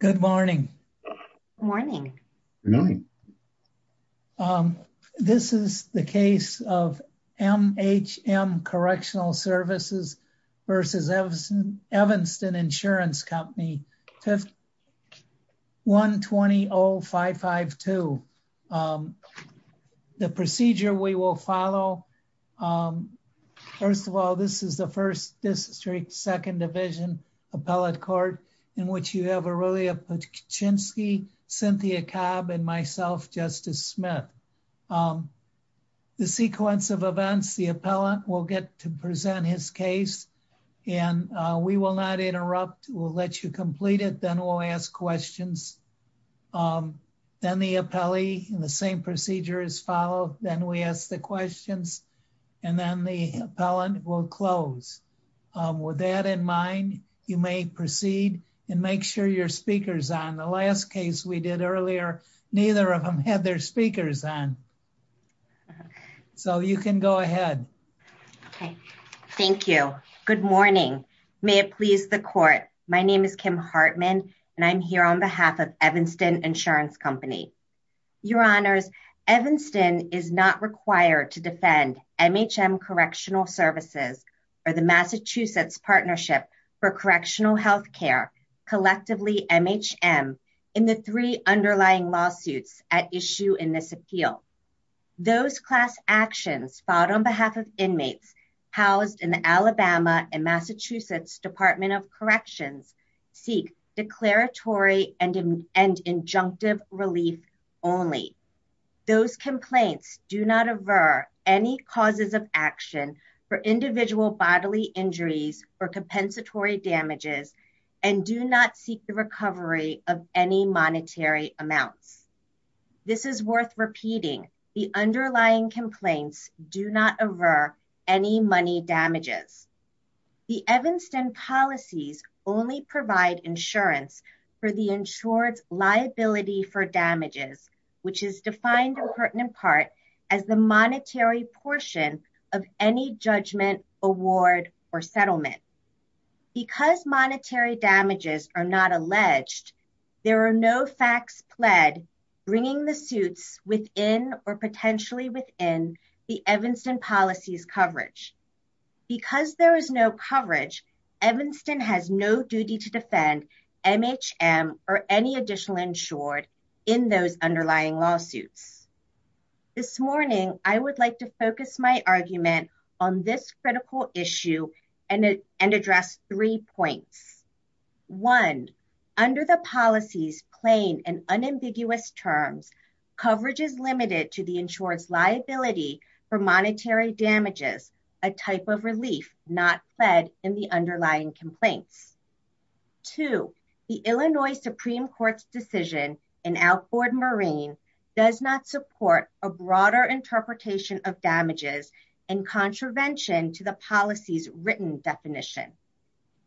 Good morning. This is the case of MHM Correctional Services versus Evanston Insurance Company 1-20-0552. The procedure we will follow, first of all, this is the first district second division appellate court in which you have Aurelia Paczynski, Cynthia Cobb, and myself, Justice Smith. The sequence of events, the appellant will get to present his case, and we will not interrupt. We'll let you complete it, then we'll ask questions. Then the appellee, the same procedure is followed, then we ask the questions, and then the appellant will close. With that in mind, you may proceed and make sure your speaker is on. The last case we did earlier, neither of them had their speakers on. So you can go ahead. Okay. Thank you. Good morning. May it please the court. My name is Kim Hartman, and I'm here on behalf of Evanston Insurance Company. Your Honors, Evanston is not required to defend MHM Correctional Services or the Massachusetts Partnership for Correctional Health Care, collectively MHM, in the three underlying lawsuits at issue in this appeal. Those class actions filed on behalf of inmates housed in the only. Those complaints do not aver any causes of action for individual bodily injuries or compensatory damages and do not seek the recovery of any monetary amounts. This is worth repeating, the underlying complaints do not aver any money damages. The Evanston policies only provide insurance for the insured's liability for damages, which is defined in pertinent part as the monetary portion of any judgment, award, or settlement. Because monetary damages are not alleged, there are no facts pled bringing the suits within or potentially within the Evanston MHM or any additional insured in those underlying lawsuits. This morning, I would like to focus my argument on this critical issue and address three points. One, under the policies plain and unambiguous terms, coverage is limited to the insured's liability for monetary damages, a type of relief not fed in the underlying complaints. Two, the Illinois Supreme Court's decision in Alford Marine does not support a broader interpretation of damages and contravention to the policy's written definition.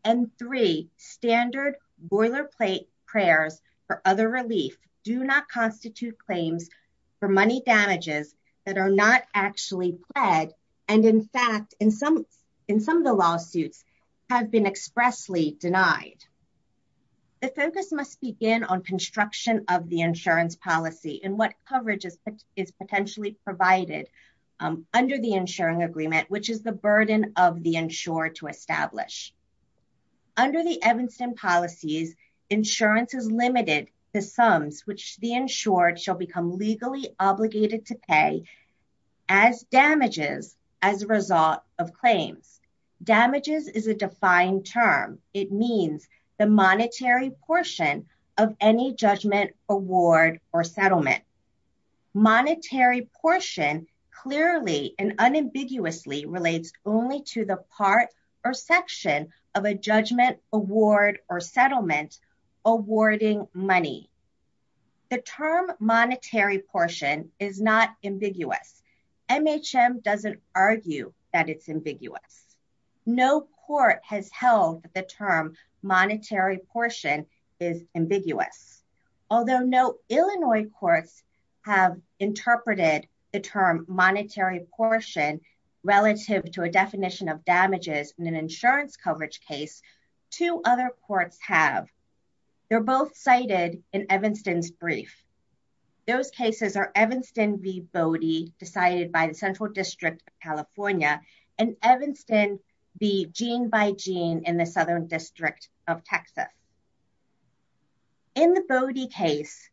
And three, standard boilerplate prayers for other relief do not constitute claims for money damages that are not actually pled, and in fact, in some of the lawsuits, have been expressly denied. The focus must begin on construction of the insurance policy and what coverage is potentially provided under the insuring agreement, which is the burden of the insured to establish. Under the Evanston policies, insurance is limited to sums which the insured shall become legally obligated to pay as damages as a result of claims. Damages is a defined term. It means the monetary portion of any judgment, award, or settlement. Monetary portion clearly and unambiguously relates only to the part or section of a judgment, award, or settlement awarding money. The term monetary portion is not ambiguous. MHM doesn't argue that it's ambiguous. No court has held that the term monetary portion is ambiguous. Although no Illinois courts have interpreted the term monetary portion relative to a definition of damages in an insurance coverage case, two other courts have. They're both cited in Evanston's brief. Those cases are Evanston v. Bodie decided by the Central District of California and Evanston v. Gene by Gene in the Southern District of Texas. In the Bodie case,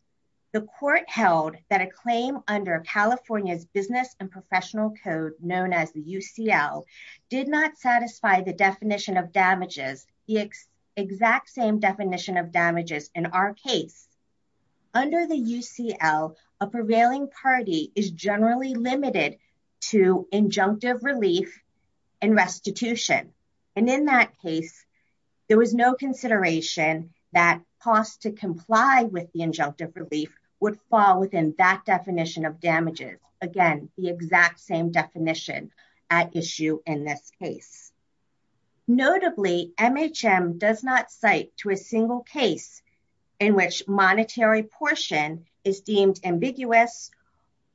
the court held that a claim under California's professional code known as the UCL did not satisfy the exact same definition of damages in our case. Under the UCL, a prevailing party is generally limited to injunctive relief and restitution. In that case, there was no consideration that costs to comply with the injunctive relief would fall within that definition of damages. Again, the exact same definition at issue in this case. Notably, MHM does not cite to a single case in which monetary portion is deemed ambiguous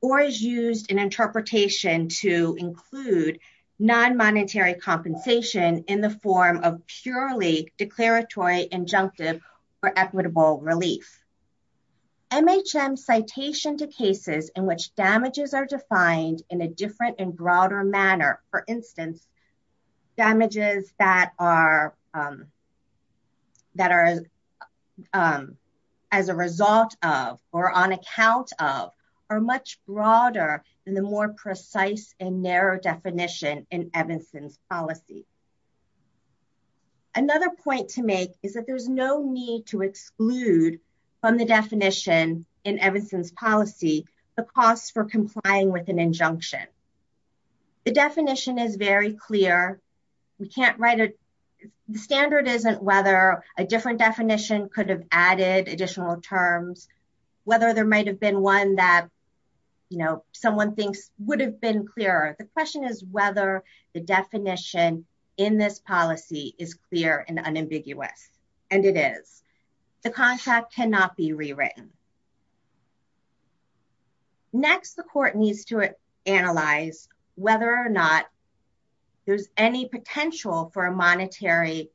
or is used in interpretation to include non-monetary compensation in the form of purely declaratory injunctive or equitable relief. MHM citation to cases in which damages are defined in a different and broader manner, for instance, damages that are as a result of or on account of are much broader than the more precise and narrow definition in Evanston's policy. Another point to make is that there's no need to exclude from the definition in Evanston's policy the costs for complying with an injunction. The definition is very clear. We can't write a standard isn't whether a different definition could have added additional terms, whether there might have been one that, you know, someone thinks would have been clearer. The question is whether the definition in this policy is clear and unambiguous, and it is. The contract cannot be rewritten. Next, the court needs to analyze whether or not there's any potential for a monetary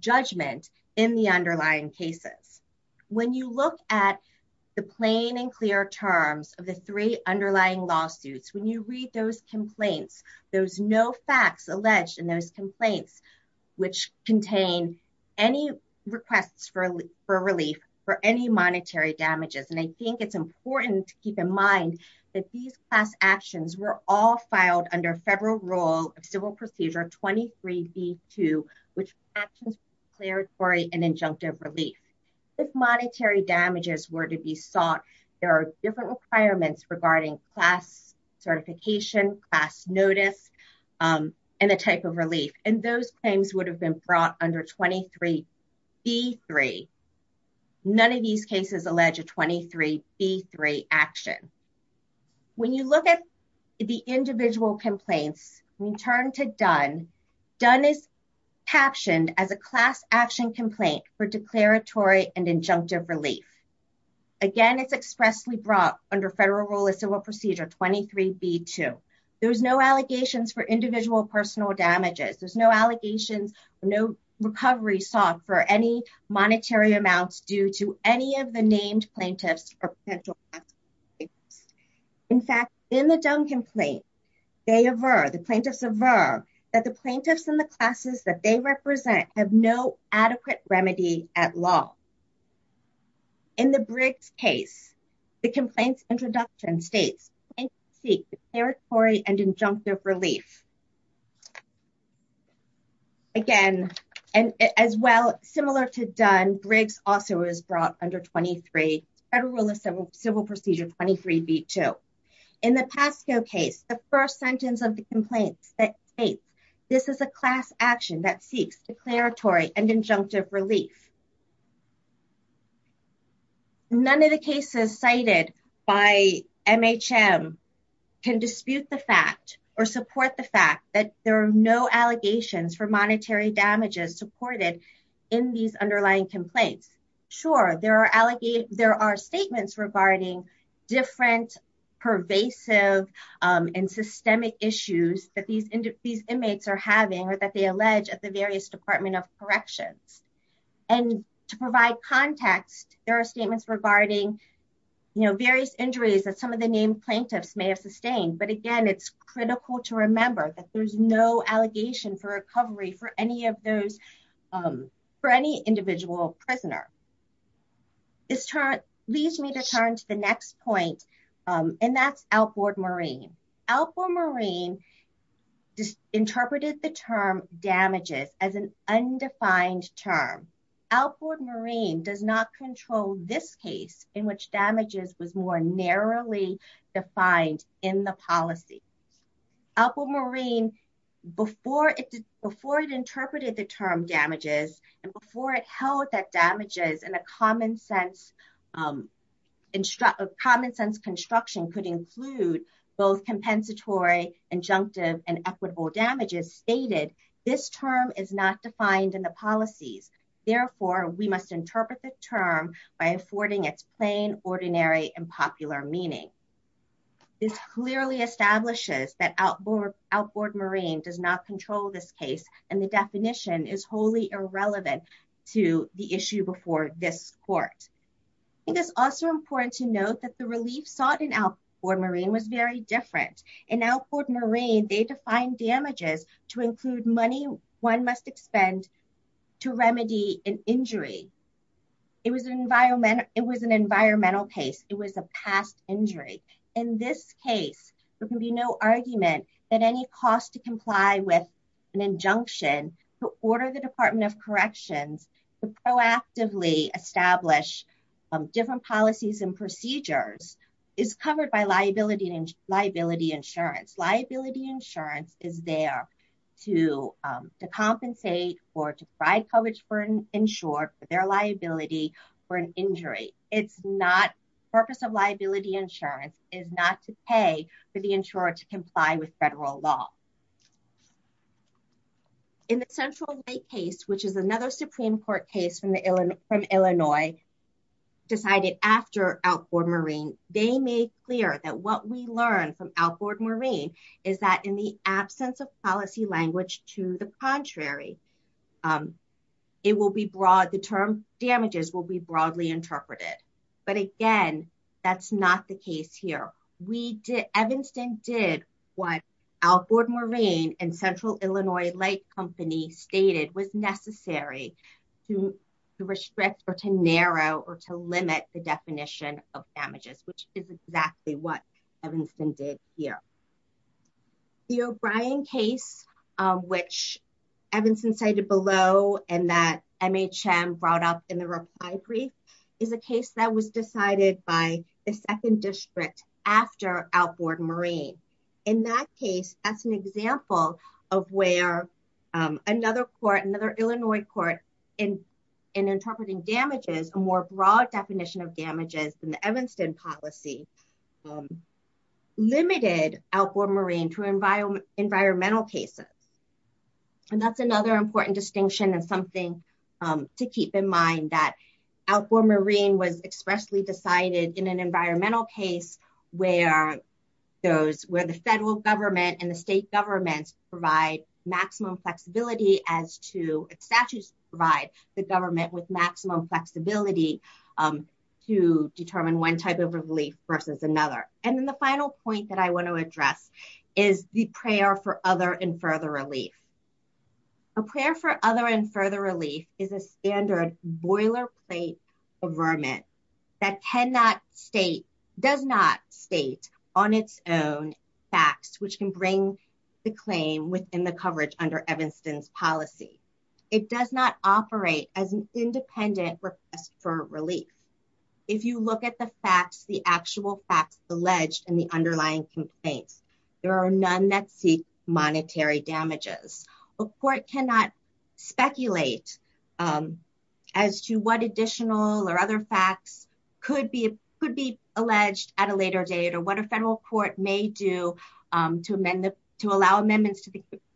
judgment in the underlying cases. When you look at the plain and clear terms of the three there's no facts alleged in those complaints which contain any requests for relief for any monetary damages, and I think it's important to keep in mind that these class actions were all filed under federal rule of civil procedure 23d2, which actions declaratory and injunctive relief. If monetary damages were to be sought, there are different requirements regarding class certification, class notice, and the type of relief, and those claims would have been brought under 23d3. None of these cases allege a 23d3 action. When you look at the individual complaints, we turn to Dunn. Dunn is captioned as a class action complaint for declaratory and injunctive relief. Again, it's expressly brought under federal rule of civil procedure 23b2. There's no allegations for individual personal damages. There's no allegations, no recovery sought for any monetary amounts due to any of the named plaintiffs or potential. In fact, in the Dunn complaint, the plaintiffs aver that the plaintiffs and the classes that they represent have no In the Briggs case, the complaint's introduction states, seek declaratory and injunctive relief. Again, and as well, similar to Dunn, Briggs also is brought under 23 federal rule of civil procedure 23b2. In the Pasco case, the first sentence of the complaint states, this is a class action that seeks declaratory and injunctive relief. None of the cases cited by MHM can dispute the fact or support the fact that there are no allegations for monetary damages supported in these underlying complaints. Sure, there are statements regarding different pervasive and systemic issues that these inmates are having or that they allege at the various Department of Corrections. To provide context, there are statements regarding various injuries that some of the named plaintiffs may have sustained. Again, it's critical to remember that there's no allegation for recovery for any of those, for any individual prisoner. This leads me to turn to the next point, and that's Alford Marine. Alford Marine interpreted the term damages as an undefined term. Alford Marine does not control this case in which damages was more narrowly defined in the policy. Alford Marine, before it interpreted the term damages and before it held that damages in a common sense construction could include both compensatory, injunctive, and equitable damages, stated, this term is not defined in the policies. Therefore, we must interpret the term by affording its plain, ordinary, and popular meaning. This clearly establishes that Alford Marine does not control this case, and the definition is wholly irrelevant to the issue before this court. I think it's also important to note that the relief sought in Alford Marine was very different. In Alford Marine, they defined damages to include money one must expend to remedy an injury. It was an environmental case. It was a past injury. In this case, there can be no argument that any cost to comply with an injunction to order the Department of Corrections to proactively establish different policies and procedures is covered by liability insurance. Liability insurance is not to pay for the insurer to comply with federal law. In the Central Lake case, which is another Supreme Court case from Illinois, decided after Alford Marine, they made clear that what we learned from Alford Marine is that in the absence of policy language to the contrary, the term damages will be broadly interpreted. But again, that's not the case here. Evanston did what Alford Marine and Central Illinois Lake Company stated was necessary to restrict or to narrow or to limit the definition of damages, which is exactly what the O'Brien case, which Evanston cited below, and that MHM brought up in the reply brief, is a case that was decided by the second district after Alford Marine. In that case, that's an example of where another court, another Illinois court, in interpreting damages, a more broad definition of damages than the Evanston policy, limited Alford Marine to environmental cases. And that's another important distinction and something to keep in mind that Alford Marine was expressly decided in an environmental case where the federal government and the state governments provide maximum flexibility as to its statutes to provide the government with maximum flexibility to determine one type of relief versus another. And then the final point that I want to address is the prayer for other and further relief. A prayer for other and further relief is a standard boilerplate affirmant that cannot state, does not state on its own facts, which can bring the claim within coverage under Evanston's policy. It does not operate as an independent request for relief. If you look at the facts, the actual facts alleged in the underlying complaints, there are none that seek monetary damages. A court cannot speculate as to what additional or other facts could be alleged at a later date or what a federal court may do to amend, to allow amendments to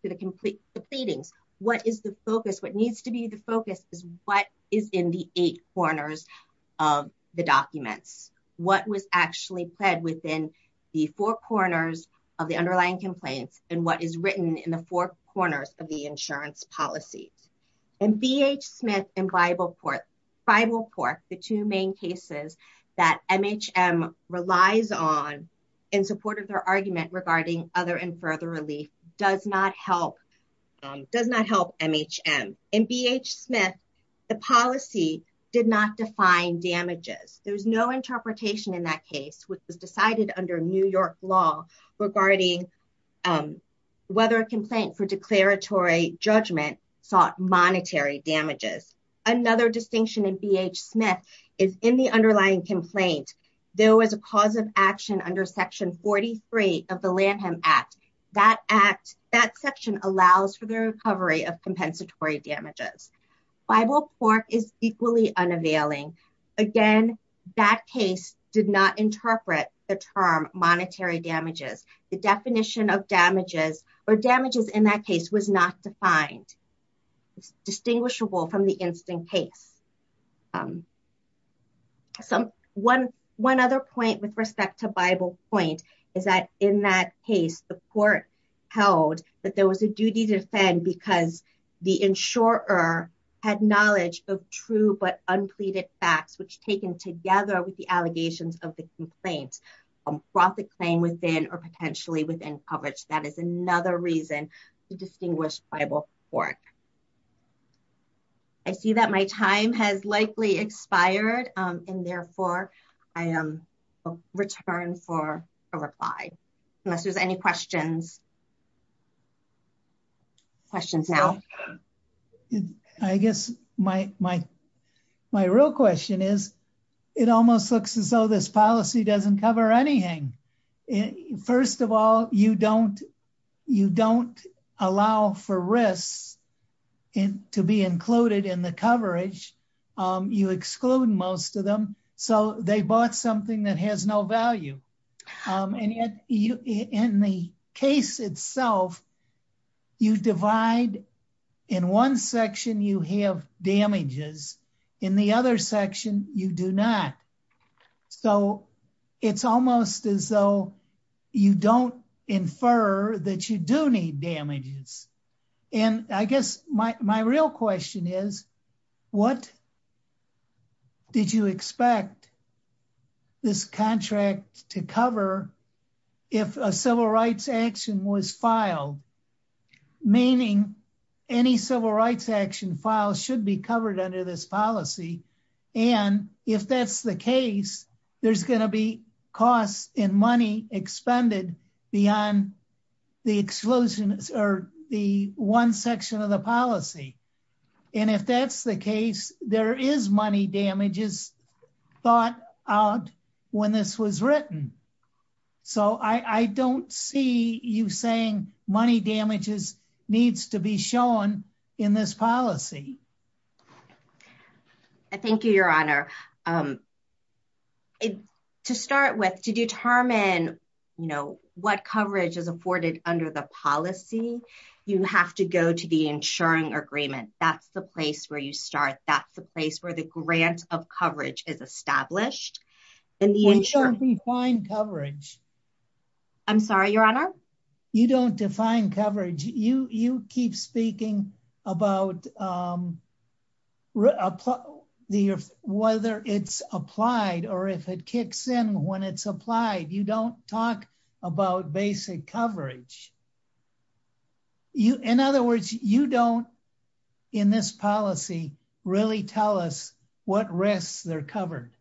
the complete pleadings. What is the focus? What needs to be the focus is what is in the eight corners of the documents. What was actually pled within the four corners of the underlying complaints and what is written in the four corners of the insurance policies. And BH Smith and Bible Cork, the two main cases that MHM relies on in support of their argument regarding other and further relief does not help, does not help MHM. In BH Smith, the policy did not define damages. There's no interpretation in that case, which was decided under New York law regarding whether a complaint for declaratory judgment sought monetary damages. Another distinction in BH Smith is in the underlying complaint, there was a cause of action under section 43 of the Lanham Act. That section allows for the recovery of compensatory damages. Bible Cork is equally unavailing. Again, that case did not interpret the term monetary damages. The definition of damages or damages in that case was not defined. It's distinguishable from the point is that in that case, the court held that there was a duty to defend because the insurer had knowledge of true but unpleaded facts, which taken together with the allegations of the complaint brought the claim within or potentially within coverage. That is another reason to reply. Unless there's any questions. Questions now. I guess my real question is, it almost looks as though this policy doesn't cover anything. First of all, you don't allow for risks to be included in the coverage. You exclude most of them. They bought something that has no value. In the case itself, you divide in one section, you have damages. In the other section, you do not. It's almost as though you don't infer that you do need damages. I guess my real question is, what did you expect this contract to cover if a civil rights action was filed? Meaning, any civil rights action file should be covered under this policy. If that's the case, there's going to be costs and money expended beyond the exclusion or the one section of the policy. If that's the case, there is money damages thought out when this was written. I don't see you saying money damages needs to be shown in this policy. Thank you, Your Honor. To start with, to determine what coverage is afforded under the policy, you have to go to the insuring agreement. That's the place where you start. That's the place where the grant of coverage is established. We don't define coverage. I'm sorry, Your Honor? You don't define coverage. You keep speaking about whether it's applied or if it kicks in when it's covered. In other words, you don't, in this policy, really tell us what risks are covered.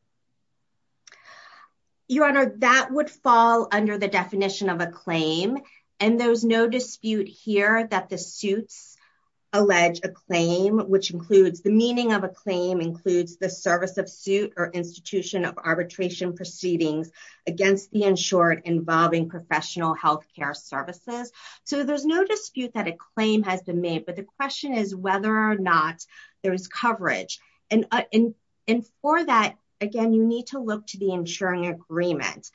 Your Honor, that would fall under the definition of a claim. There's no dispute here that the suits allege a claim. The meaning of a claim includes the service of suit or institution of arbitration proceedings against the insured involving professional health care services. There's no dispute that a claim has been made, but the question is whether or not there is coverage. For that, again, you need to look to the insuring agreement.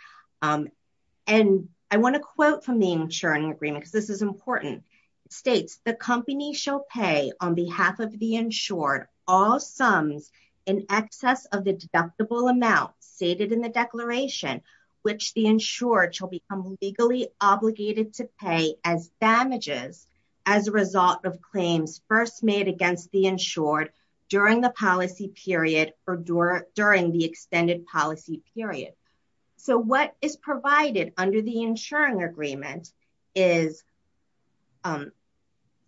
I want to quote from the insuring agreement because this is important. It states, the company shall pay on behalf of the insured all sums in excess of the deductible amount stated in the declaration, which the insured shall become legally obligated to pay as damages as a result of claims first made against the insured during the policy period or during the extended policy period. What is provided under the insuring agreement is, or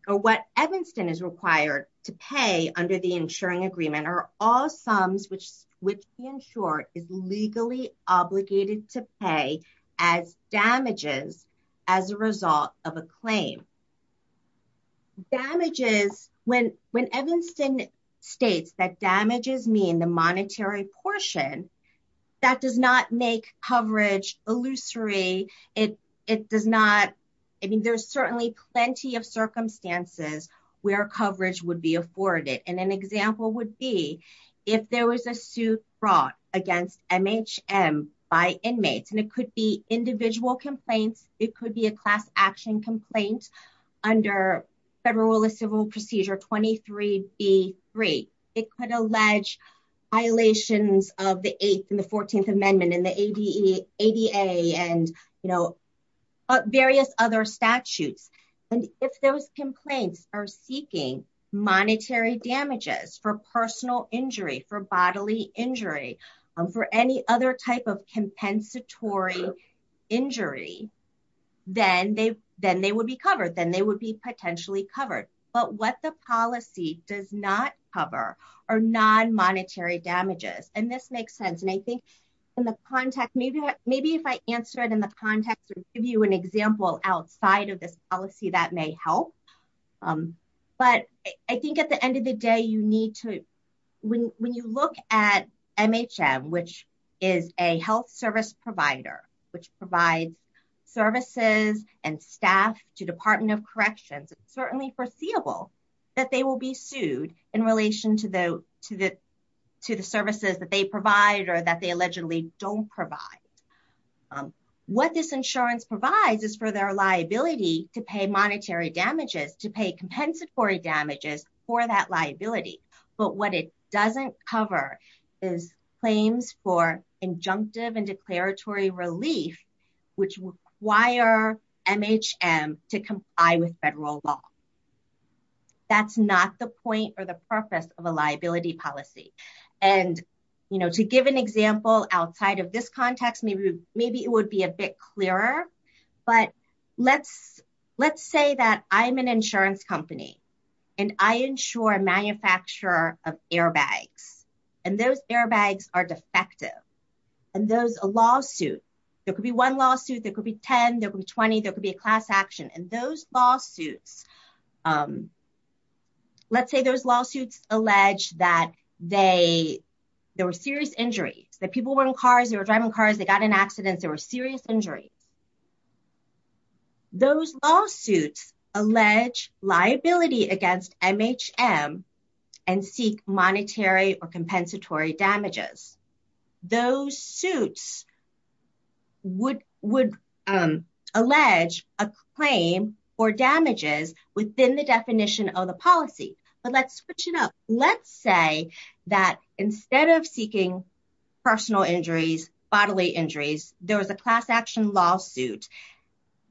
what Evanston is required to pay under the insuring agreement are all sums which the insured is legally obligated to pay as damages as a result of a claim. Damages, when Evanston states that damages mean the monetary portion, that does not make coverage illusory. It does not, I mean, there's certainly plenty of circumstances where coverage would be afforded, and an example would be if there was a suit brought against MHM by inmates, and it could be individual complaints. It could be a class action complaint under federal civil procedure 23 B3. It could allege violations of the eighth and the 14th amendment and the ADA and various other statutes, and if those complaints are seeking monetary damages for personal injury, for bodily injury, for any other type of compensatory injury, then they would be potentially covered, but what the policy does not cover are non-monetary damages, and this makes sense, and I think in the context, maybe if I answer it in the context or give you an example outside of this policy, that may help, but I think at the end of the day, you need to, when you look at MHM, which is a health service provider, which provides services and staff to certainly foreseeable that they will be sued in relation to the services that they provide or that they allegedly don't provide. What this insurance provides is for their liability to pay monetary damages, to pay compensatory damages for that liability, but what it doesn't cover is injunctive and declaratory relief, which require MHM to comply with federal law. That's not the point or the purpose of a liability policy, and to give an example outside of this context, maybe it would be a bit clearer, but let's say that I'm an insurance company, and I insure a manufacturer of airbags, and those airbags are defective, and there's a lawsuit, there could be one lawsuit, there could be 10, there could be 20, there could be a class action, and those lawsuits, let's say those lawsuits allege that there were serious injuries, that people were in cars, they were driving cars, they got in accidents, there were serious injuries. Those lawsuits allege liability against MHM and seek monetary or compensatory damages. Those suits would allege a claim for damages within the definition of the policy, but let's switch it up. Let's say that instead of seeking personal injuries, bodily injuries, there was a class action lawsuit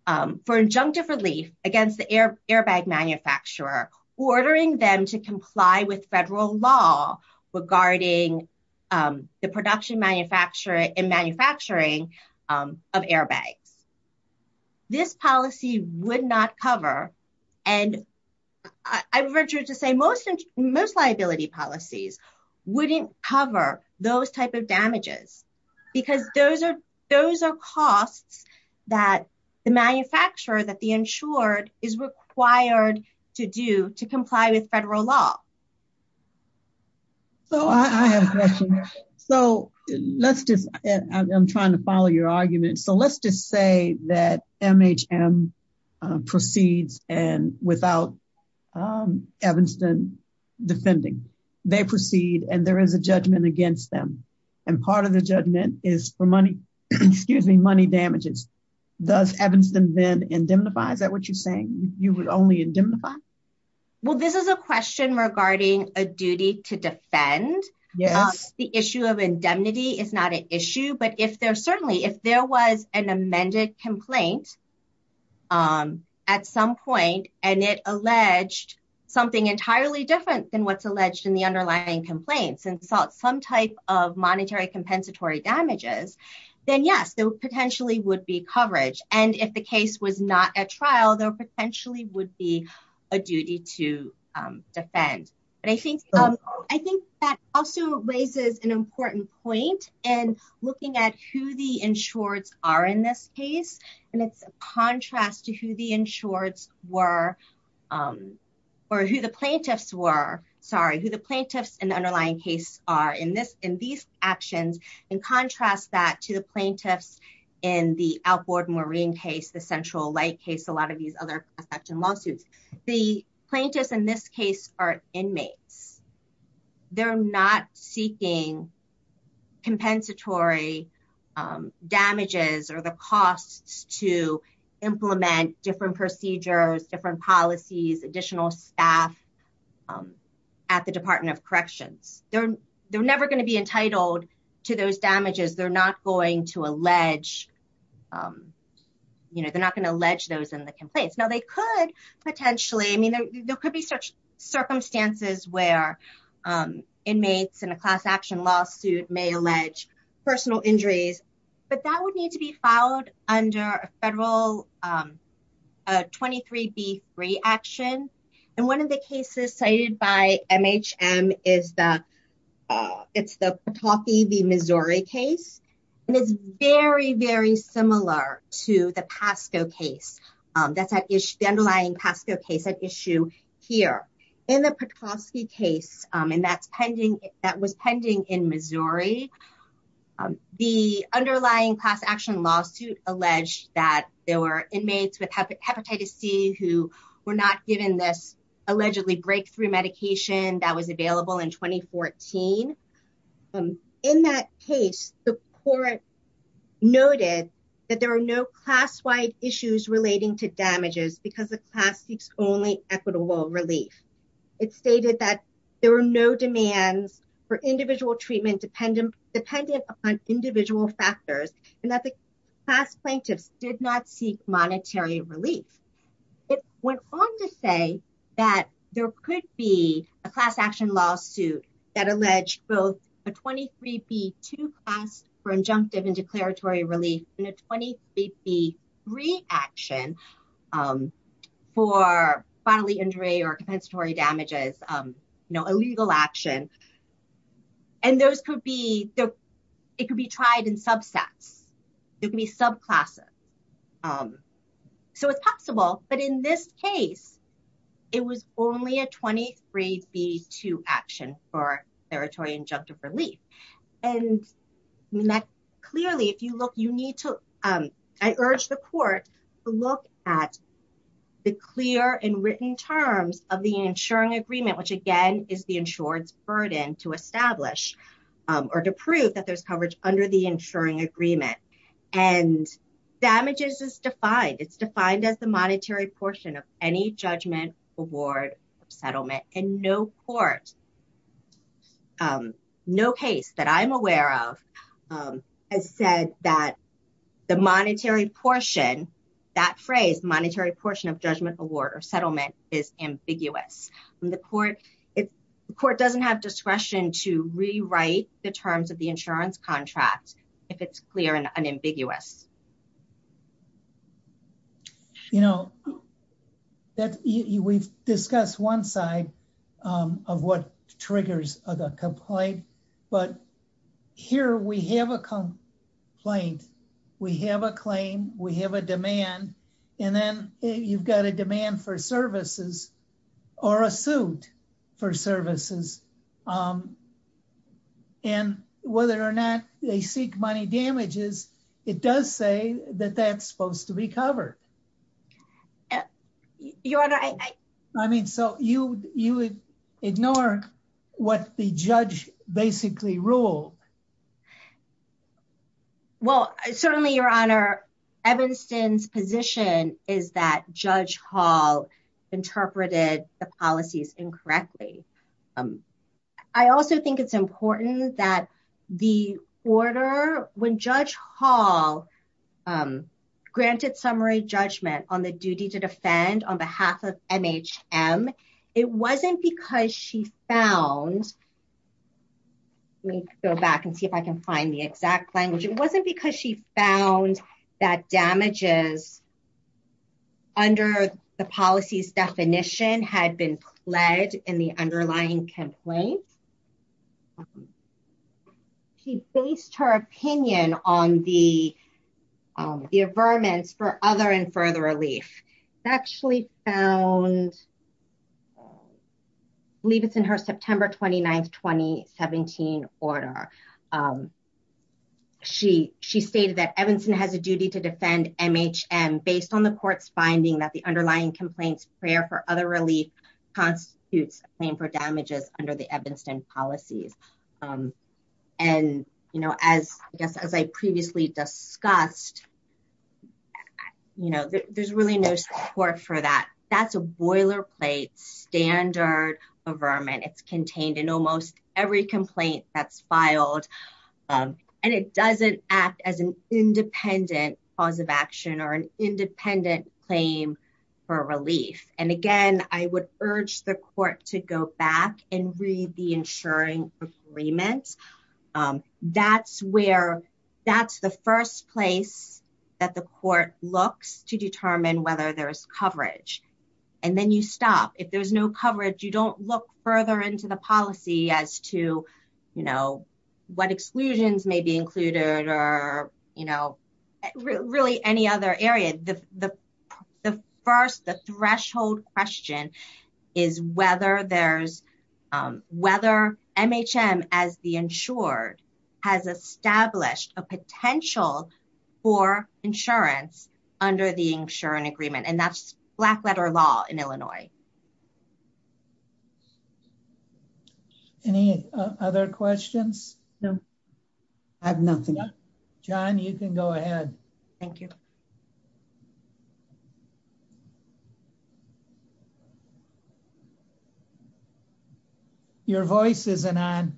for injunctive relief against the airbag manufacturer, ordering them to comply with federal law regarding the production and manufacturing of airbags. This policy would not cover, and I would venture to say most liability policies wouldn't cover those type of damages, because those are costs that the manufacturer, that the insured, is required to do to comply with federal law. So I have a question. So let's just, I'm trying to follow your argument, so let's just say that MHM proceeds and without Evanston defending, they proceed and there is a judgment against them, and part of the judgment is for money, excuse me, money damages. Does Evanston then indemnify? Is that what you're saying? You would only indemnify? Well this is a question regarding a duty to defend. Yes. The issue of indemnity is not an issue, but if there certainly, if there was an amended complaint at some point and it alleged something entirely different than what's alleged in the underlying complaints and sought some type of monetary compensatory damages, then yes, there potentially would be coverage. And if the case was not at trial, there potentially would be a duty to defend. But I think that also raises an important point in looking at who the insureds are in this case, and it's a contrast to who the insureds were, or who the plaintiffs were, sorry, who the plaintiffs in the underlying case are in this, in these actions, and contrast that to the plaintiffs in the outboard marine case, the central light case, a lot of these other aspects and lawsuits. The plaintiffs in this case are inmates. They're not seeking compensatory damages or the costs to implement different procedures, different policies, additional staff at the Department of Corrections. They're never going to be entitled to those damages. They're not going to allege, you know, they're not going to allege those in the complaints. Now they could potentially, I mean, there could be such circumstances where inmates in a class action lawsuit may allege personal injuries, but that would need to be followed under a federal 23B3 action. And one of the cases cited by MHM is the, it's the Petoskey v. Missouri case. And it's very, very similar to the PASCO case. That's the underlying PASCO case at issue here. In the Petoskey case, and that's pending, that was pending in Missouri, the underlying class action lawsuit alleged that there were inmates with hepatitis C who were not given this allegedly breakthrough medication that was available in 2014. In that case, the court noted that there are no class-wide issues relating to damages because the class seeks only equitable relief. It stated that there were no demands for individual treatment dependent upon individual factors and that the class plaintiffs did not seek monetary relief. It went on to say that there could be a class action lawsuit that alleged both a 23B2 class for injunctive and declaratory relief and a 23B3 action for bodily injury or compensatory damages, you know, a legal action. And those could be, it could be tried in subsets, it could be subclasses. So it's possible, but in this case, it was only a 23B2 action for injunctive relief. And that clearly, if you look, you need to, I urge the court to look at the clear and written terms of the insuring agreement, which again is the insured's burden to establish or to prove that there's coverage under the insuring agreement. And damages is defined, it's defined as the monetary portion of any judgment award or settlement. And no court, no case that I'm aware of has said that the monetary portion, that phrase, monetary portion of judgment award or settlement is ambiguous. The court doesn't have discretion to rewrite the terms of the insurance contract if it's clear and unambiguous. You know, that, we've discussed one side of what triggers a complaint, but here we have a complaint, we have a claim, we have a demand, and then you've got a demand for services or a suit for services. And whether or not they seek money damages, it does say that that's supposed to be covered. I mean, so you would ignore what the judge basically ruled. Well, certainly Your Honor, Evanston's position is that Judge Hall interpreted the policies incorrectly. I also think it's important that the order, when Judge Hall granted summary judgment on the duty to defend on behalf of MHM, it wasn't because she found, let me go back and see if I can find the exact language, it wasn't because she found that had been pled in the underlying complaint. She based her opinion on the averments for other and further relief. It's actually found, believe it's in her September 29th, 2017 order. She stated that Evanston has a duty to defend MHM based on the court's finding that the underlying complaint's prayer for other relief constitutes a claim for damages under the Evanston policies. And as I previously discussed, there's really no support for that. That's a boilerplate standard averment. It's contained in almost every complaint that's filed and it doesn't act as an independent cause of action or an independent claim for relief. And again, I would urge the court to go back and read the insuring agreement. That's the first place that the court looks to determine whether there's coverage. And then you stop. If there's no coverage, you don't look further into the policy as to what exclusions may be included or really any other area. The first, the threshold question is whether MHM as the insured has established a potential for insurance under the insurance agreement. And that's black letter law in Illinois. Any other questions? No. I have nothing. John, you can go ahead. Thank you. Your voice isn't on.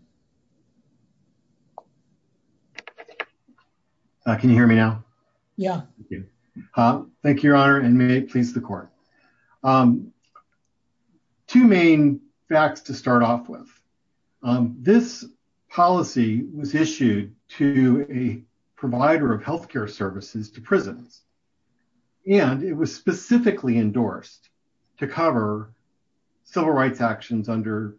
Can you hear me now? Yeah. Thank you. Thank you, your honor and may it please the court. Two main facts to start off with. This policy was issued to a provider of healthcare services to prisons. And it was specifically endorsed to cover civil rights actions under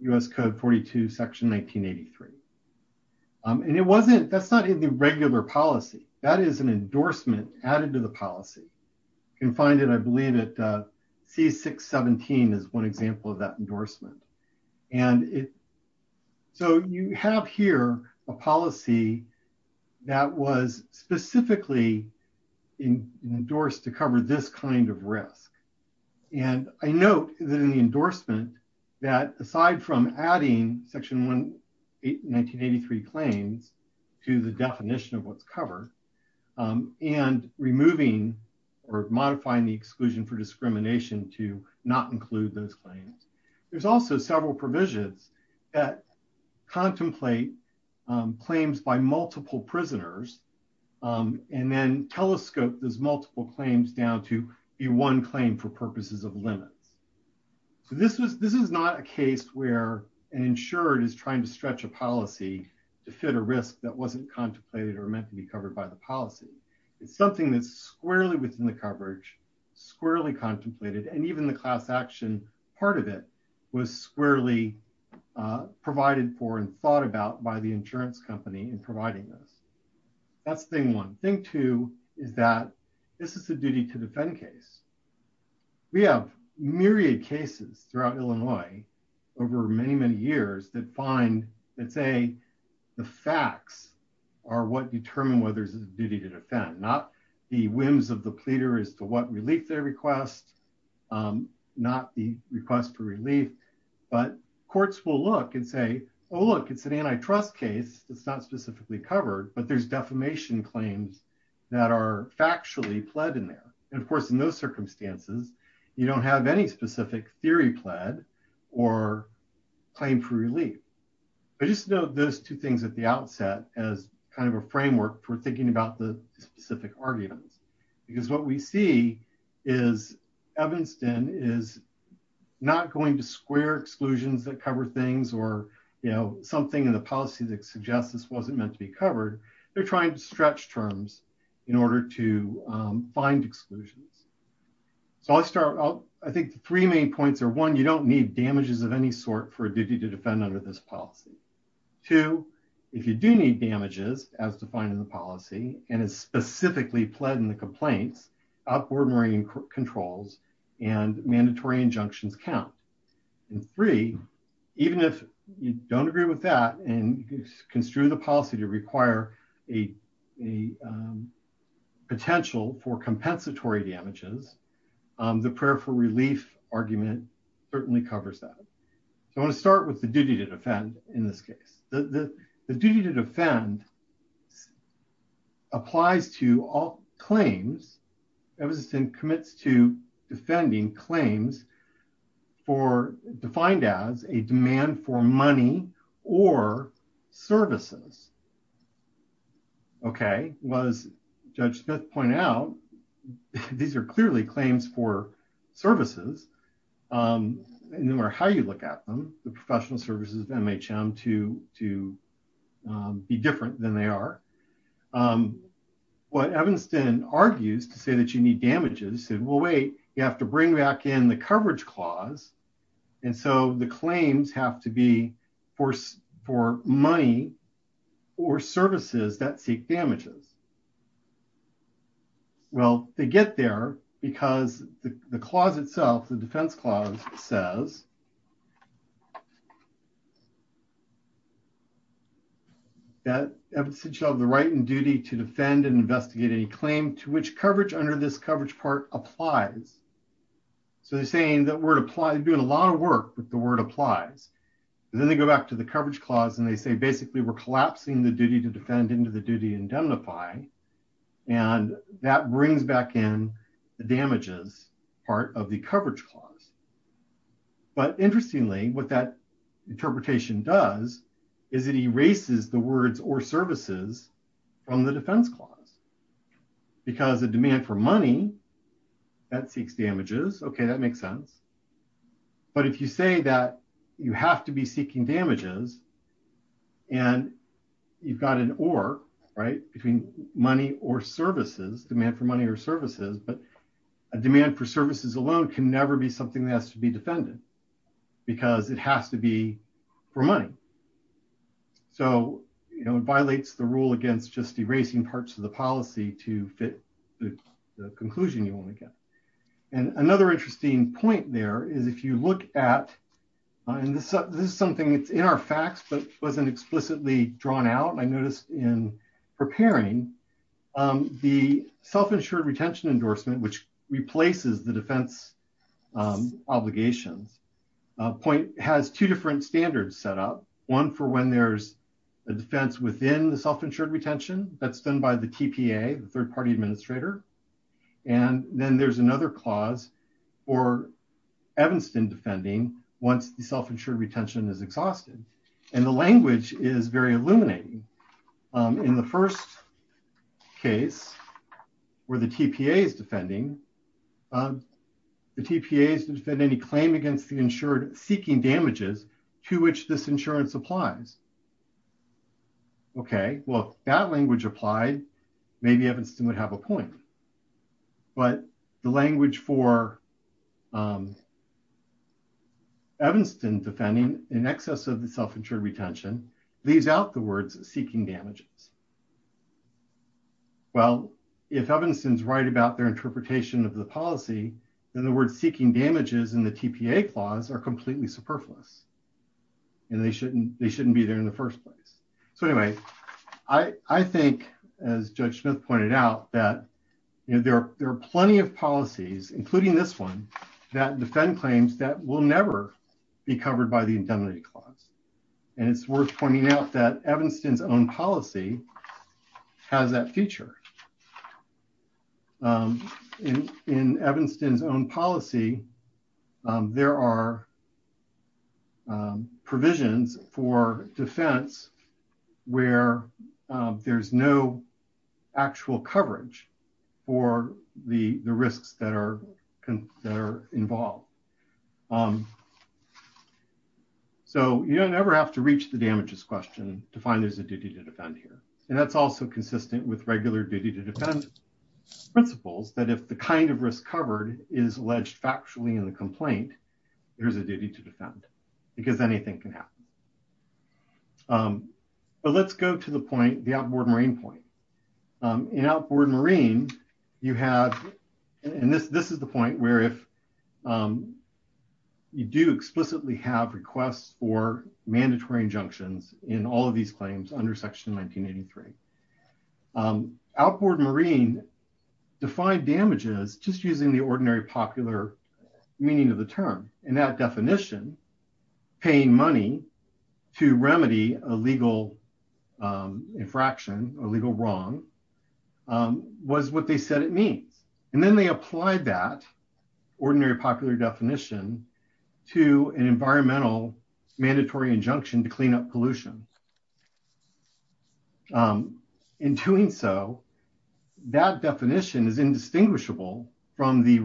U.S. code 42, section 1983. And it wasn't, that's not in the regular policy. That is an endorsement added to policy. You can find it, I believe at C617 is one example of that endorsement. And it, so you have here a policy that was specifically endorsed to cover this kind of risk. And I note that in the endorsement that aside from adding section 1983 claims to the definition of what's covered and removing or modifying the exclusion for discrimination to not include those claims, there's also several provisions that contemplate claims by multiple prisoners. And then telescope those multiple claims down to be one claim for purposes of limits. So this was, this is not a case where an insured is trying to stretch a policy to fit a risk that meant to be covered by the policy. It's something that's squarely within the coverage, squarely contemplated, and even the class action part of it was squarely provided for and thought about by the insurance company in providing this. That's thing one. Thing two is that this is a duty to defend case. We have myriad cases throughout Illinois over many, many years that find, that say the facts are what determine whether it's a duty to defend, not the whims of the pleader as to what relief they request, not the request for relief, but courts will look and say, oh, look, it's an antitrust case that's not specifically covered, but there's defamation claims that are factually pled in there. And of course, in those circumstances, you don't have any specific theory pled or claim for relief. I just know those two things at the outset as kind of a framework for thinking about the specific arguments, because what we see is Evanston is not going to square exclusions that cover things or, you know, something in the policy that suggests this wasn't meant to be covered. They're trying to stretch terms in order to I think the three main points are, one, you don't need damages of any sort for a duty to defend under this policy. Two, if you do need damages as defined in the policy and it's specifically pled in the complaints, outboard marine controls and mandatory injunctions count. And three, even if you don't agree with that and construe the policy to require a potential for compensatory damages, the prayer for relief argument certainly covers that. So I want to start with the duty to defend in this case. The duty to defend applies to all claims, Evanston commits to defending claims for defined as a demand for money or services. Okay. As Judge Smith pointed out, these are clearly claims for services. No matter how you look at them, the professional services of MHM to be different than they are. What Evanston argues to say that you need damages said, well, wait, you have to bring back in the coverage clause. And so the claims have to be for money or services that seek damages. Well, they get there because the clause itself, the defense clause says that Evanston shall have the right and duty to defend and investigate any claim to which under this coverage part applies. So they're saying that we're doing a lot of work, but the word applies. And then they go back to the coverage clause and they say, basically we're collapsing the duty to defend into the duty indemnify. And that brings back in the damages part of the coverage clause. But interestingly, what that interpretation does is it erases the money that seeks damages. Okay. That makes sense. But if you say that you have to be seeking damages and you've got an or right between money or services demand for money or services, but a demand for services alone can never be something that has to be defended because it has to be for money. So, you know, it violates the rule against just erasing parts of policy to fit the conclusion you want to get. And another interesting point there is if you look at, and this is something that's in our facts, but wasn't explicitly drawn out. I noticed in preparing the self-insured retention endorsement, which replaces the defense obligations point has two different standards set up one for when there's a defense within the third party administrator. And then there's another clause or Evanston defending once the self-insured retention is exhausted. And the language is very illuminating. In the first case where the TPA is defending, the TPA is to defend any claim against the insured seeking damages to which this insurance applies. Okay. Well, that language applied, maybe Evanston would have a point, but the language for Evanston defending in excess of the self-insured retention leaves out the words seeking damages. Well, if Evanston's right about their interpretation of the policy, in other words, seeking damages in the TPA clause are completely superfluous and they shouldn't, they shouldn't be there in the first place. So anyway, I think as judge Smith pointed out that there are plenty of policies, including this one that defend claims that will never be covered by the indemnity clause. And it's worth pointing out that Evanston's own policy has that feature. In Evanston's own policy, there are provisions for defense where there's no actual coverage for the risks that are involved. So, you don't ever have to reach the damages question to find there's a duty to defend here. And that's also consistent with regular duty to defend principles that if the kind of risk covered is alleged factually in the complaint, there's a duty to defend because anything can happen. But let's go to the point, the outboard marine point. In outboard marine, you have, and this, this is the point where if you do explicitly have requests for mandatory injunctions in all of these claims under section 1983. Outboard marine defined damages just using the ordinary popular meaning of the term and that definition, paying money to remedy a legal infraction or legal wrong was what they said it means. And then they applied that ordinary popular definition to an environmental mandatory injunction to clean up pollution. In doing so, that definition is indistinguishable from the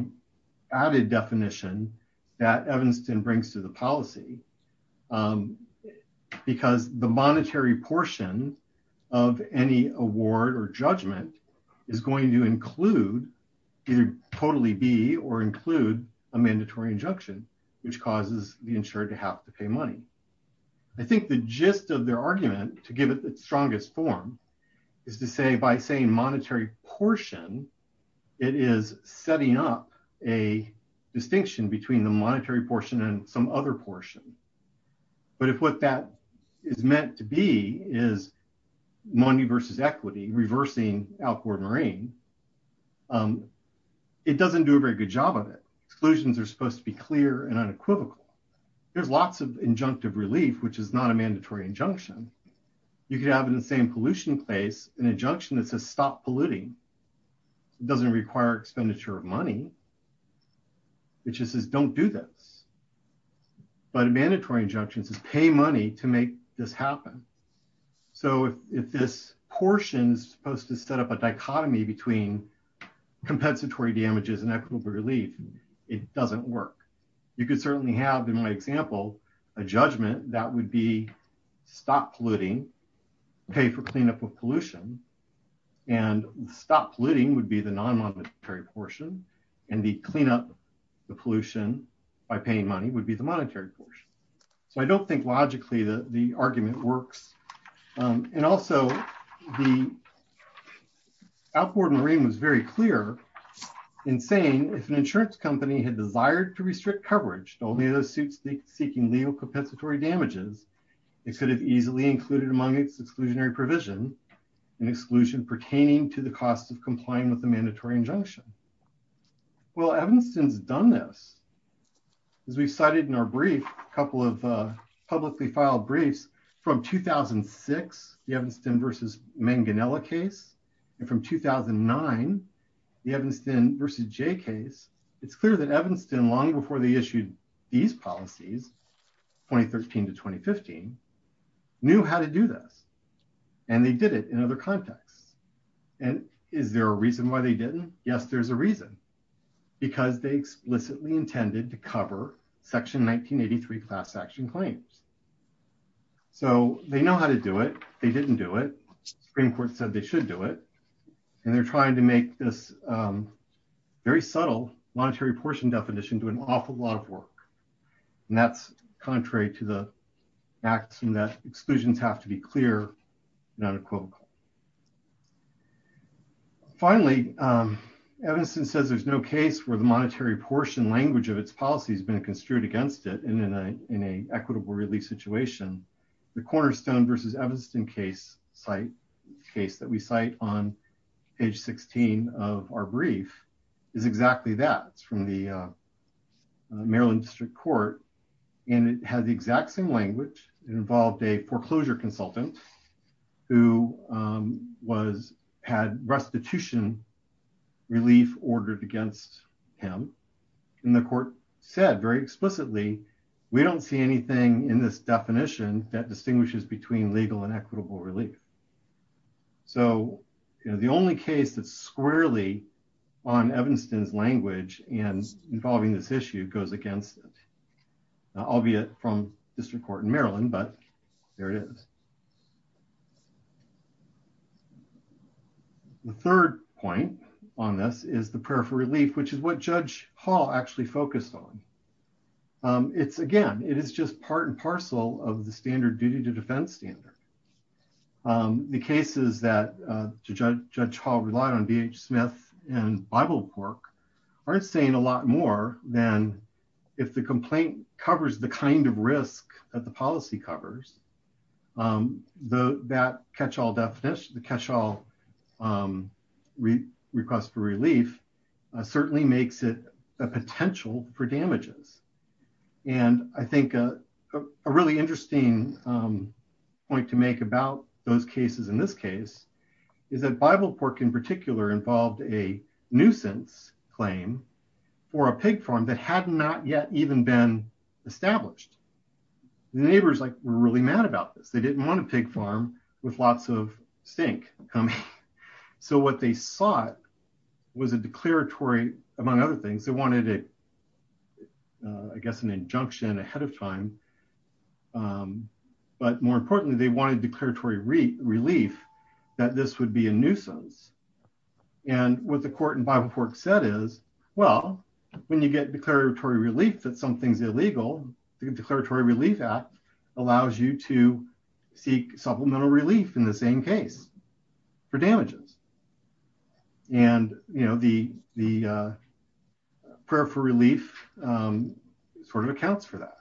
added definition that Evanston brings to the policy. Because the monetary portion of any award or judgment is going to include either totally be or include a mandatory injunction, which causes the insured to have to pay money. I think the gist of their argument to give it the strongest form is to say by saying monetary portion, it is setting up a distinction between the monetary portion and some other portion. But if what that is meant to be is money versus equity, reversing outboard marine, it doesn't do a very good job of it. Exclusions are supposed to be clear and unequivocal. There's lots of injunctive relief, which is not a mandatory injunction. You could have in the same pollution place an injunction that says stop polluting. It doesn't require expenditure of money. It just says don't do this. But a mandatory injunction says pay money to make this happen. So if this portion is supposed to set up a dichotomy between compensatory damages and equitable relief, it doesn't work. You could certainly have, in my example, a judgment that would be stop polluting, pay for cleanup of pollution, and stop polluting would be the non-monetary portion, and the clean up the pollution by paying money would be the monetary portion. So I don't think logically the argument works. And also the outboard marine was very clear in saying if an insurance company had desired to restrict coverage, only those suits seeking legal compensatory damages, it could have easily included among its exclusionary provision an exclusion pertaining to the cost of complying with the mandatory injunction. Well, Evanston's done this. As we've cited in our brief, a couple of publicly filed briefs from 2006, the Evanston versus Manganiella case, and from 2009, the Evanston versus Jay case, it's clear that Evanston, long before they issued these policies, 2013 to 2015, knew how to do this. And they did it in other contexts. And is there a reason why they didn't? Yes, there's a reason. Because they explicitly intended to cover section 1983 class action claims. So they know how to do it. They didn't do it. Supreme Court said they should do it. And they're trying to make this very subtle monetary portion definition do an awful lot of work. And that's contrary to the axiom that exclusions have to be clear, not equivocal. Finally, Evanston says there's no case where the monetary portion language of its policy has been construed against it in an equitable relief situation. The Cornerstone versus Evanston site, case that we cite on page 16 of our brief, is exactly that. It's from the Maryland District Court. And it has the exact same language. It involved a foreclosure consultant who had restitution relief ordered against him. And the court said very explicitly, we don't see anything in this definition that distinguishes between legal and equitable relief. So the only case that's squarely on Evanston's language and involving this issue goes against it. Albeit from District Court in Maryland, but there it is. The third point on this is the prayer for relief, which is what Judge Hall actually focused on. It's again, it is just part and parcel of the standard duty to defense standard. The cases that Judge Hall relied on, B.H. Smith and Bible work, are saying a lot more than if the complaint covers the kind of risk that the policy covers. That catch-all definition, catch-all request for relief, certainly makes it a potential for damages. And I think a really interesting point to make about those cases in this case, is that Bible work in particular involved a nuisance claim for a pig farm that had not yet even been established. The neighbors were really mad about this. They didn't want a pig farm with lots of stink coming. So what they sought was a declaratory, among other things, they wanted I guess an injunction ahead of time. But more importantly, they wanted declaratory relief that this would be a nuisance. And what the court and Bible work said is, well, when you get declaratory relief that something's illegal, the declaratory relief act allows you to seek supplemental relief in the same case for damages. And the prayer for relief sort of accounts for that.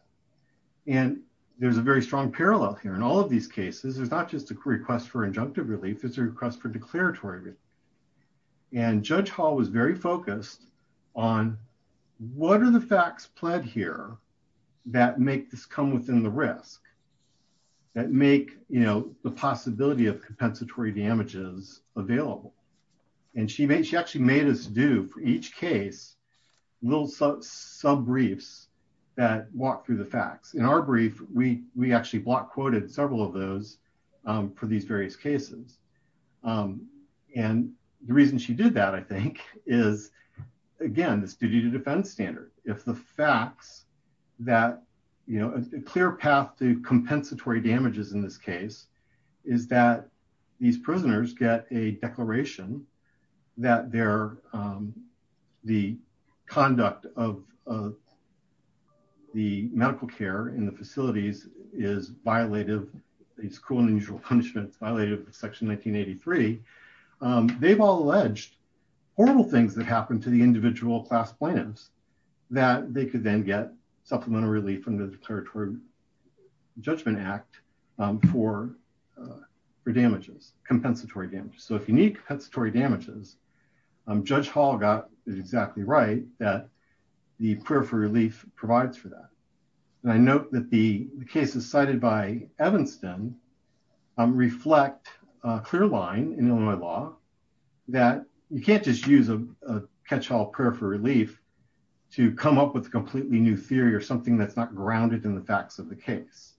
And there's a very strong parallel here. In all of these cases, there's not just a request for injunctive relief, there's a request for declaratory relief. And Judge Hall was very focused on what are the facts pled here that make this come within the possibility of compensatory damages available. And she actually made us do for each case, little sub briefs that walk through the facts. In our brief, we actually block quoted several of those for these various cases. And the reason she did that, I think, is again, it's due to this case, is that these prisoners get a declaration that they're the conduct of the medical care in the facilities is violated. It's cruel and unusual punishments violated section 1983. They've all alleged horrible things that happened to the individual class plaintiffs that they could then get supplemental relief from the declaratory judgment act for damages, compensatory damages. So if you need compensatory damages, Judge Hall got it exactly right that the prayer for relief provides for that. And I note that the cases cited by Evanston reflect a clear line in Illinois law that you can't just use a catch all prayer for relief to come up with a completely new theory or something that's not grounded in the facts of the case.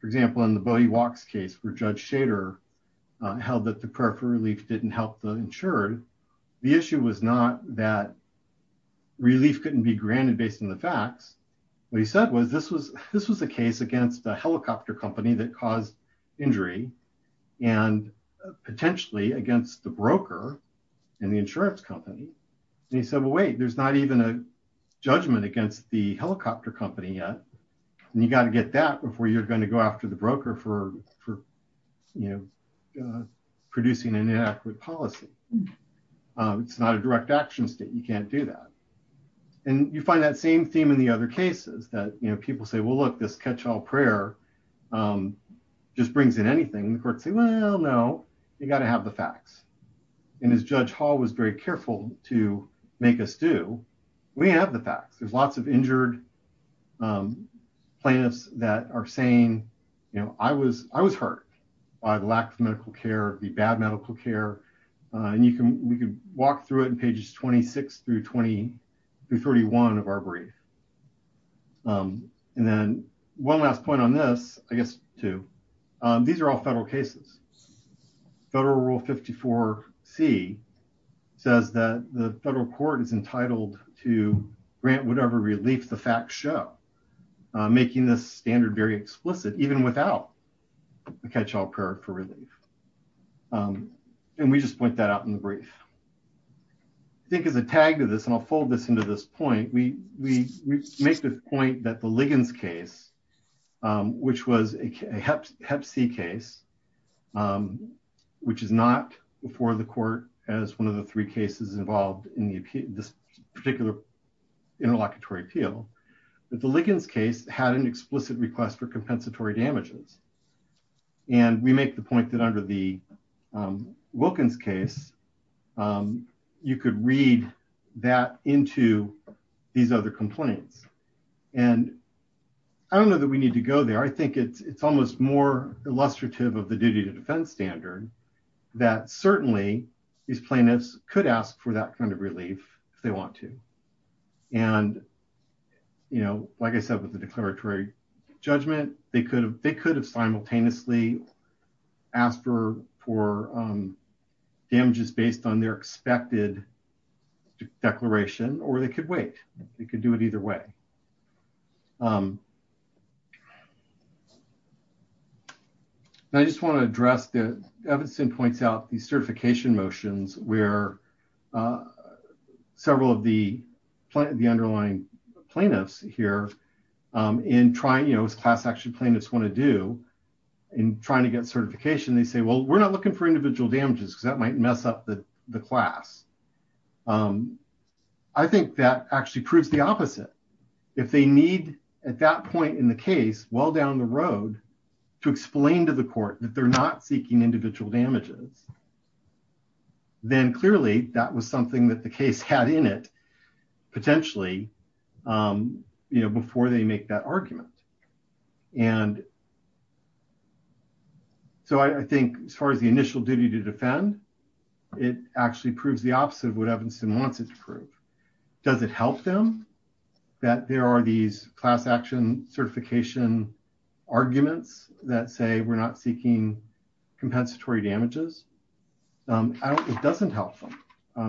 For example, in the body walks case for judge shader held that the prayer for relief didn't help the insured. The issue was not that relief couldn't be granted based on the facts. What he said was this was a case against a helicopter company that caused injury and potentially against the broker and the insurance company. And he said, well, wait, there's not even judgment against the helicopter company yet. And you got to get that before you're going to go after the broker for producing an inaccurate policy. It's not a direct action state. You can't do that. And you find that same theme in the other cases that people say, well, look, this catch all prayer just brings in anything. And the courts say, well, no, you got to have the facts. And as judge hall was very careful to make us do, we have the facts. There's lots of injured plaintiffs that are saying, you know, I was, I was hurt by the lack of medical care, the bad medical care. And you can, we can walk through it in pages 26 through 20, through 31 of our brief. And then one last point on this, I guess too, these are all federal cases, federal rule 54 C says that the federal court is entitled to grant whatever relief the facts show making this standard very explicit, even without the catch all prayer for relief. And we just point that out in the brief, I think as a tag to this, and I'll fold this into this point. We, we, we make the point that the Liggins case which was a hep C case, which is not before the court as one of the three cases involved in the particular interlocutory appeal, but the Liggins case had an explicit request for compensatory damages. And we make the point that under the Wilkins case, you could read that into these other complaints. And I don't know that we need to go there. I think it's, it's almost more illustrative of the duty to defense standard that certainly these plaintiffs could ask for that kind of relief if they want to. And, you know, like I said, with the declaratory judgment, they could have, they could have simultaneously asked for, for damages based on their expected declaration, or they could wait. They could do it either way. And I just want to address the evidence and points out the certification motions where several of the plant, the underlying plaintiffs here in trying, you know, actually plaintiffs want to do in trying to get certification. They say, well, we're not looking for individual damages because that might mess up the class. I think that actually proves the opposite. If they need at that point in the case, well down the road to explain to the court that they're not seeking individual damages, then clearly that was something that the case had in it potentially, you know, and so I think as far as the initial duty to defend, it actually proves the opposite of what Evanston wants it to prove. Does it help them that there are these class action certification arguments that say we're not seeking compensatory damages? It doesn't help them.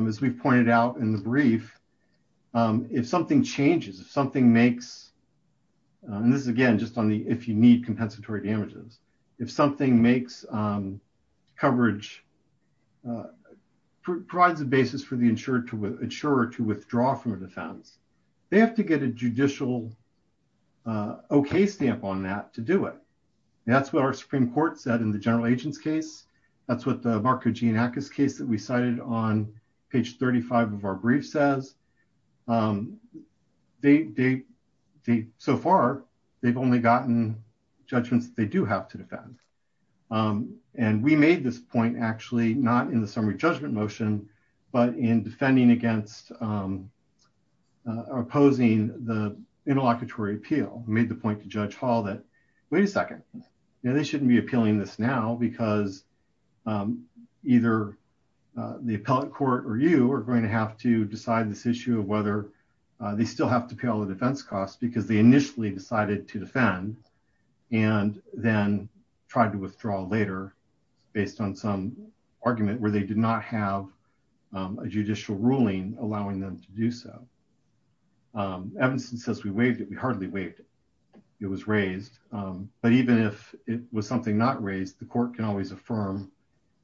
As we've pointed out in the brief, if something changes, if something makes, and this is again, just on the, if you need compensatory damages, if something makes coverage, provides a basis for the insurer to withdraw from a defense, they have to get a judicial okay stamp on that to do it. That's what our Supreme Court said in the general agent's case. That's what the Mark Kajinakis case that we cited on page 35 of our brief says. So far, they've only gotten judgments that they do have to defend. And we made this point actually not in the summary judgment motion, but in defending against opposing the interlocutory appeal, made the point to Judge Hall that, wait a second, they shouldn't be appealing this now because either the appellate court or you are going to have to decide this issue of whether they still have to pay all the defense costs because they initially decided to defend and then tried to withdraw later based on some argument where they did not have a judicial ruling allowing them to do so. Evanston says we waived it. We hardly waived it. It was raised. But even if it was something not raised, the court can always affirm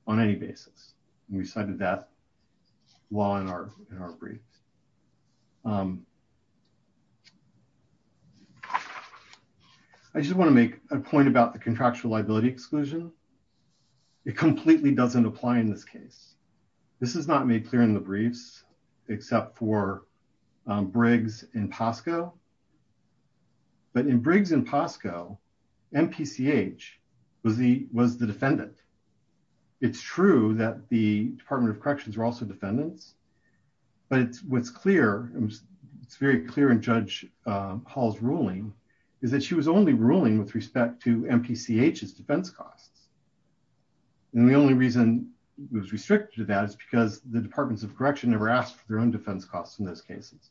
on any basis. We cited that law in our briefs. I just want to make a point about the contractual liability exclusion. It completely doesn't apply in this case. This is not made clear in the briefs except for that in Briggs and Posco, MPCH was the defendant. It's true that the Department of Corrections were also defendants. But what's clear, it's very clear in Judge Hall's ruling is that she was only ruling with respect to MPCH's defense costs. And the only reason it was restricted to that is because the Departments of Correction never asked for their own defense costs in those cases.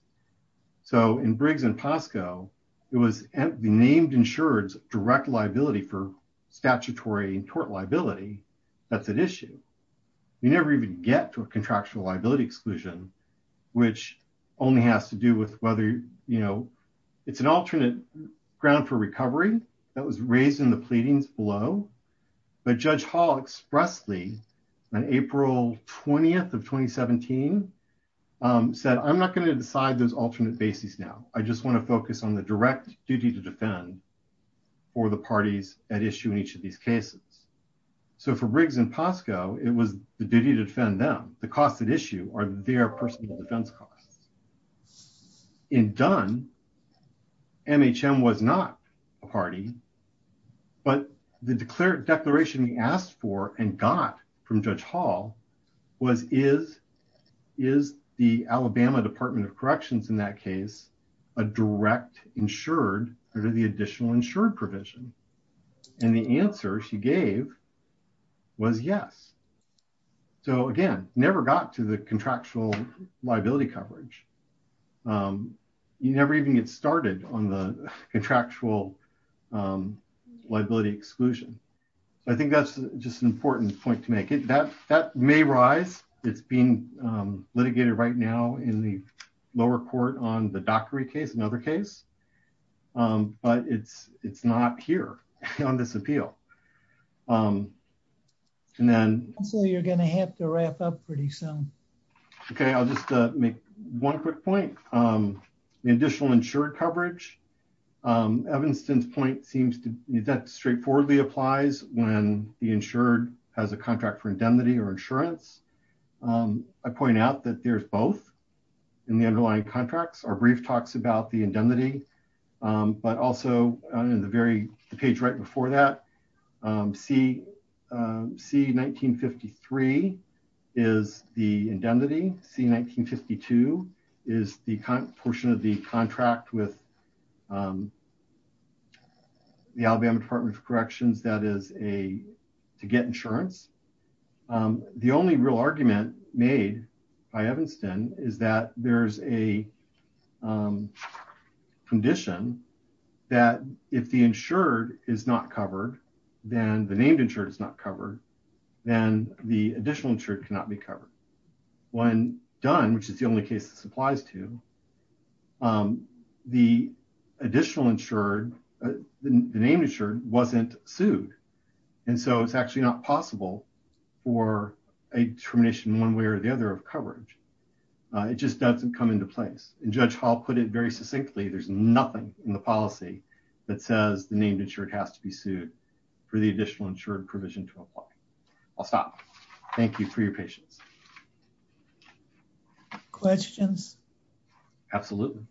So in Briggs and Posco, it was the named insured's direct liability for statutory tort liability that's at issue. You never even get to a contractual liability exclusion, which only has to do with whether, you know, it's an alternate ground for recovery that was raised in the pleadings below. But Judge Hall expressly on April 20th of 2017 said, I'm not going to decide those alternate bases now. I just want to focus on the direct duty to defend for the parties at issue in each of these cases. So for Briggs and Posco, it was the duty to defend them. The costs at issue are their personal defense costs. In Dunn, MHM was not a party, but the declaration we asked for and got from Judge Hall was, is the Alabama Department of Corrections in that case a direct insured under the additional insured provision? And the answer she gave was yes. So again, never got to the contractual liability coverage. You never even get started on the important point to make. That may rise. It's being litigated right now in the lower court on the Dockery case, another case. But it's not here on this appeal. And then... And so you're going to have to wrap up pretty soon. Okay. I'll just make one quick point. The additional insured coverage, Evanston's point seems to be that straightforwardly applies when the insured has a contract for indemnity or insurance. I point out that there's both in the underlying contracts. Our brief talks about the indemnity, but also in the page right before that, C1953 is the indemnity. C1952 is the portion of the contract with the Alabama Department of Corrections that is to get insurance. The only real argument made by Evanston is that there's a condition that if the insured is not covered, then the named insured is not covered, then the additional insured cannot be covered. When done, which is the only case this applies to, the additional insured, the named insured wasn't sued. And so it's actually not possible for a determination one way or the other of coverage. It just doesn't come into place. And Judge Hall put it very succinctly. There's nothing in the policy that says the named insured has to be sued for the additional insured provision to apply. I'll stop. Thank you for your patience. Questions? Absolutely.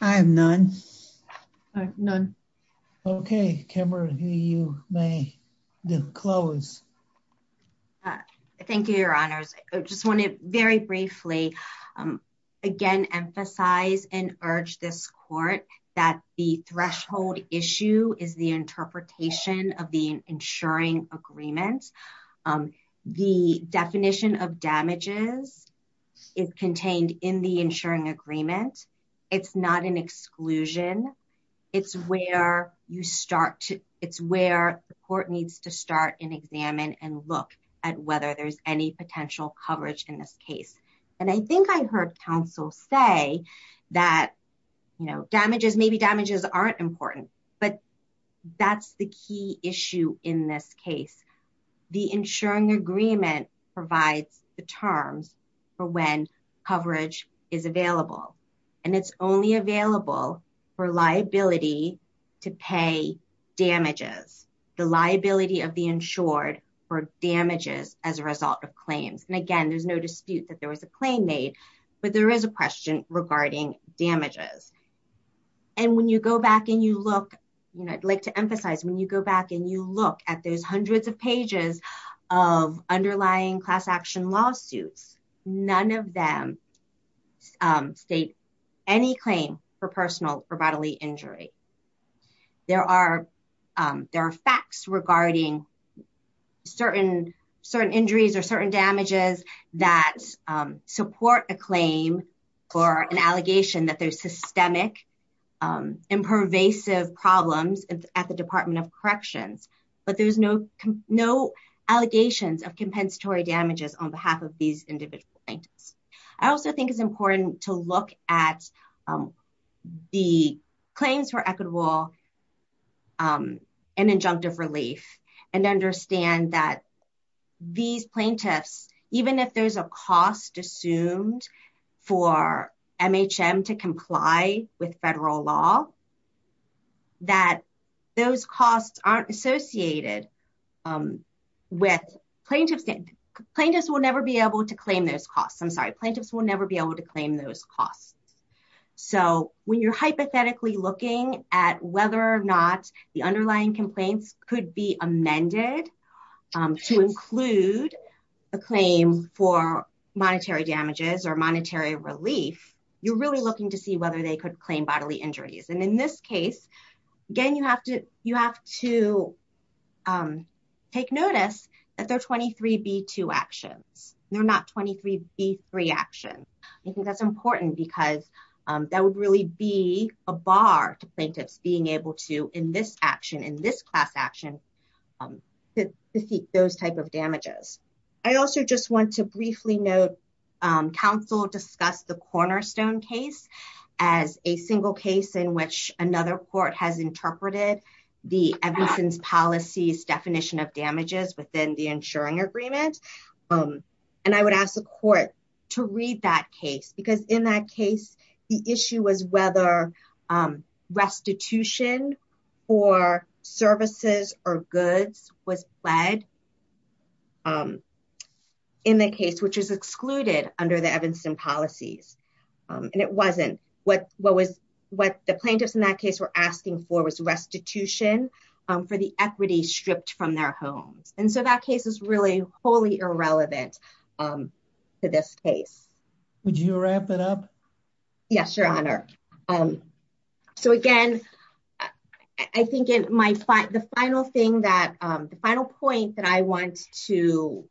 I have none. None. Okay. Kimberly, you may close. Thank you, your honors. I just want to very briefly again, emphasize and urge this court that the threshold issue is the interpretation of the insuring agreement. The definition of damages is contained in the insuring agreement. It's not an exclusion. It's where you start to, it's where the court needs to start and examine and look at whether there's any potential coverage in this case. And I think I heard counsel say that, you know, damages, maybe damages aren't important, but that's the key issue in this case. The insuring agreement provides the terms for when coverage is available. And it's only available for liability to pay damages, the liability of the insured for damages as a result of claims. And again, there's no dispute that there was a claim made, but there is a question regarding damages. And when you go back and you look, you know, I'd like to emphasize when you go back and you look at those hundreds of pages of underlying class action lawsuits, none of them state any claim for personal or bodily injury. There are facts regarding certain injuries or certain damages that support a claim or an allegation that there's systemic impervasive problems at the department of corrections, but there's no allegations of compensatory damages on behalf of these individual plaintiffs. I also think it's important to look at the claims for equitable and injunctive relief and understand that these plaintiffs, even if there's a cost assumed for MHM to comply with federal law, that those costs aren't associated with plaintiffs. Plaintiffs will be able to claim those costs. I'm sorry, plaintiffs will never be able to claim those costs. So when you're hypothetically looking at whether or not the underlying complaints could be amended to include a claim for monetary damages or monetary relief, you're really looking to see whether they could claim bodily injuries. And in this case, again, you have to take notice that they're 23B2 actions. They're not 23B3 actions. I think that's important because that would really be a bar to plaintiffs being able to, in this action, in this class action, to seek those type of damages. I also just want to briefly note, counsel discussed the Cornerstone case as a single case in which another court has interpreted the Evanston's policies definition of damages within the insuring agreement. And I would ask the court to read that case because in that case, the issue was whether restitution for services or goods was led in the case, which is excluded under the Evanston policies. And it wasn't. What the plaintiffs in that case were asking for was restitution for the equity stripped from their homes. And so that case is really wholly irrelevant to this case. Would you wrap it up? Yes, Your Honor. So again, I think the final point that I want to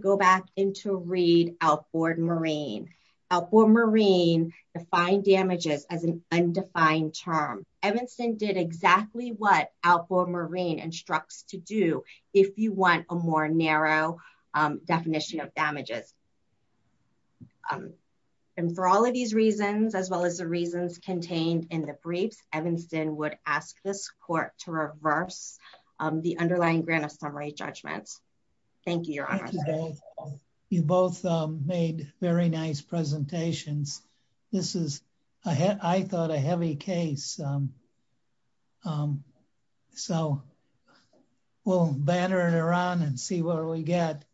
go back into read Alford-Marine. Alford-Marine defined damages as an undefined term. Evanston did exactly what Alford-Marine instructs to do if you want a more narrow definition of damages. And for all of these reasons, as well as the reasons contained in the briefs, Evanston would ask this court to reverse the underlying grant of summary judgments. Thank you, Your Honor. You both made very nice presentations. This is, I thought, a heavy case. So we'll batter it around and see what we get.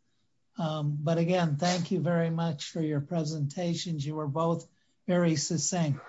But again, thank you very much for your presentations. You were both very succinct.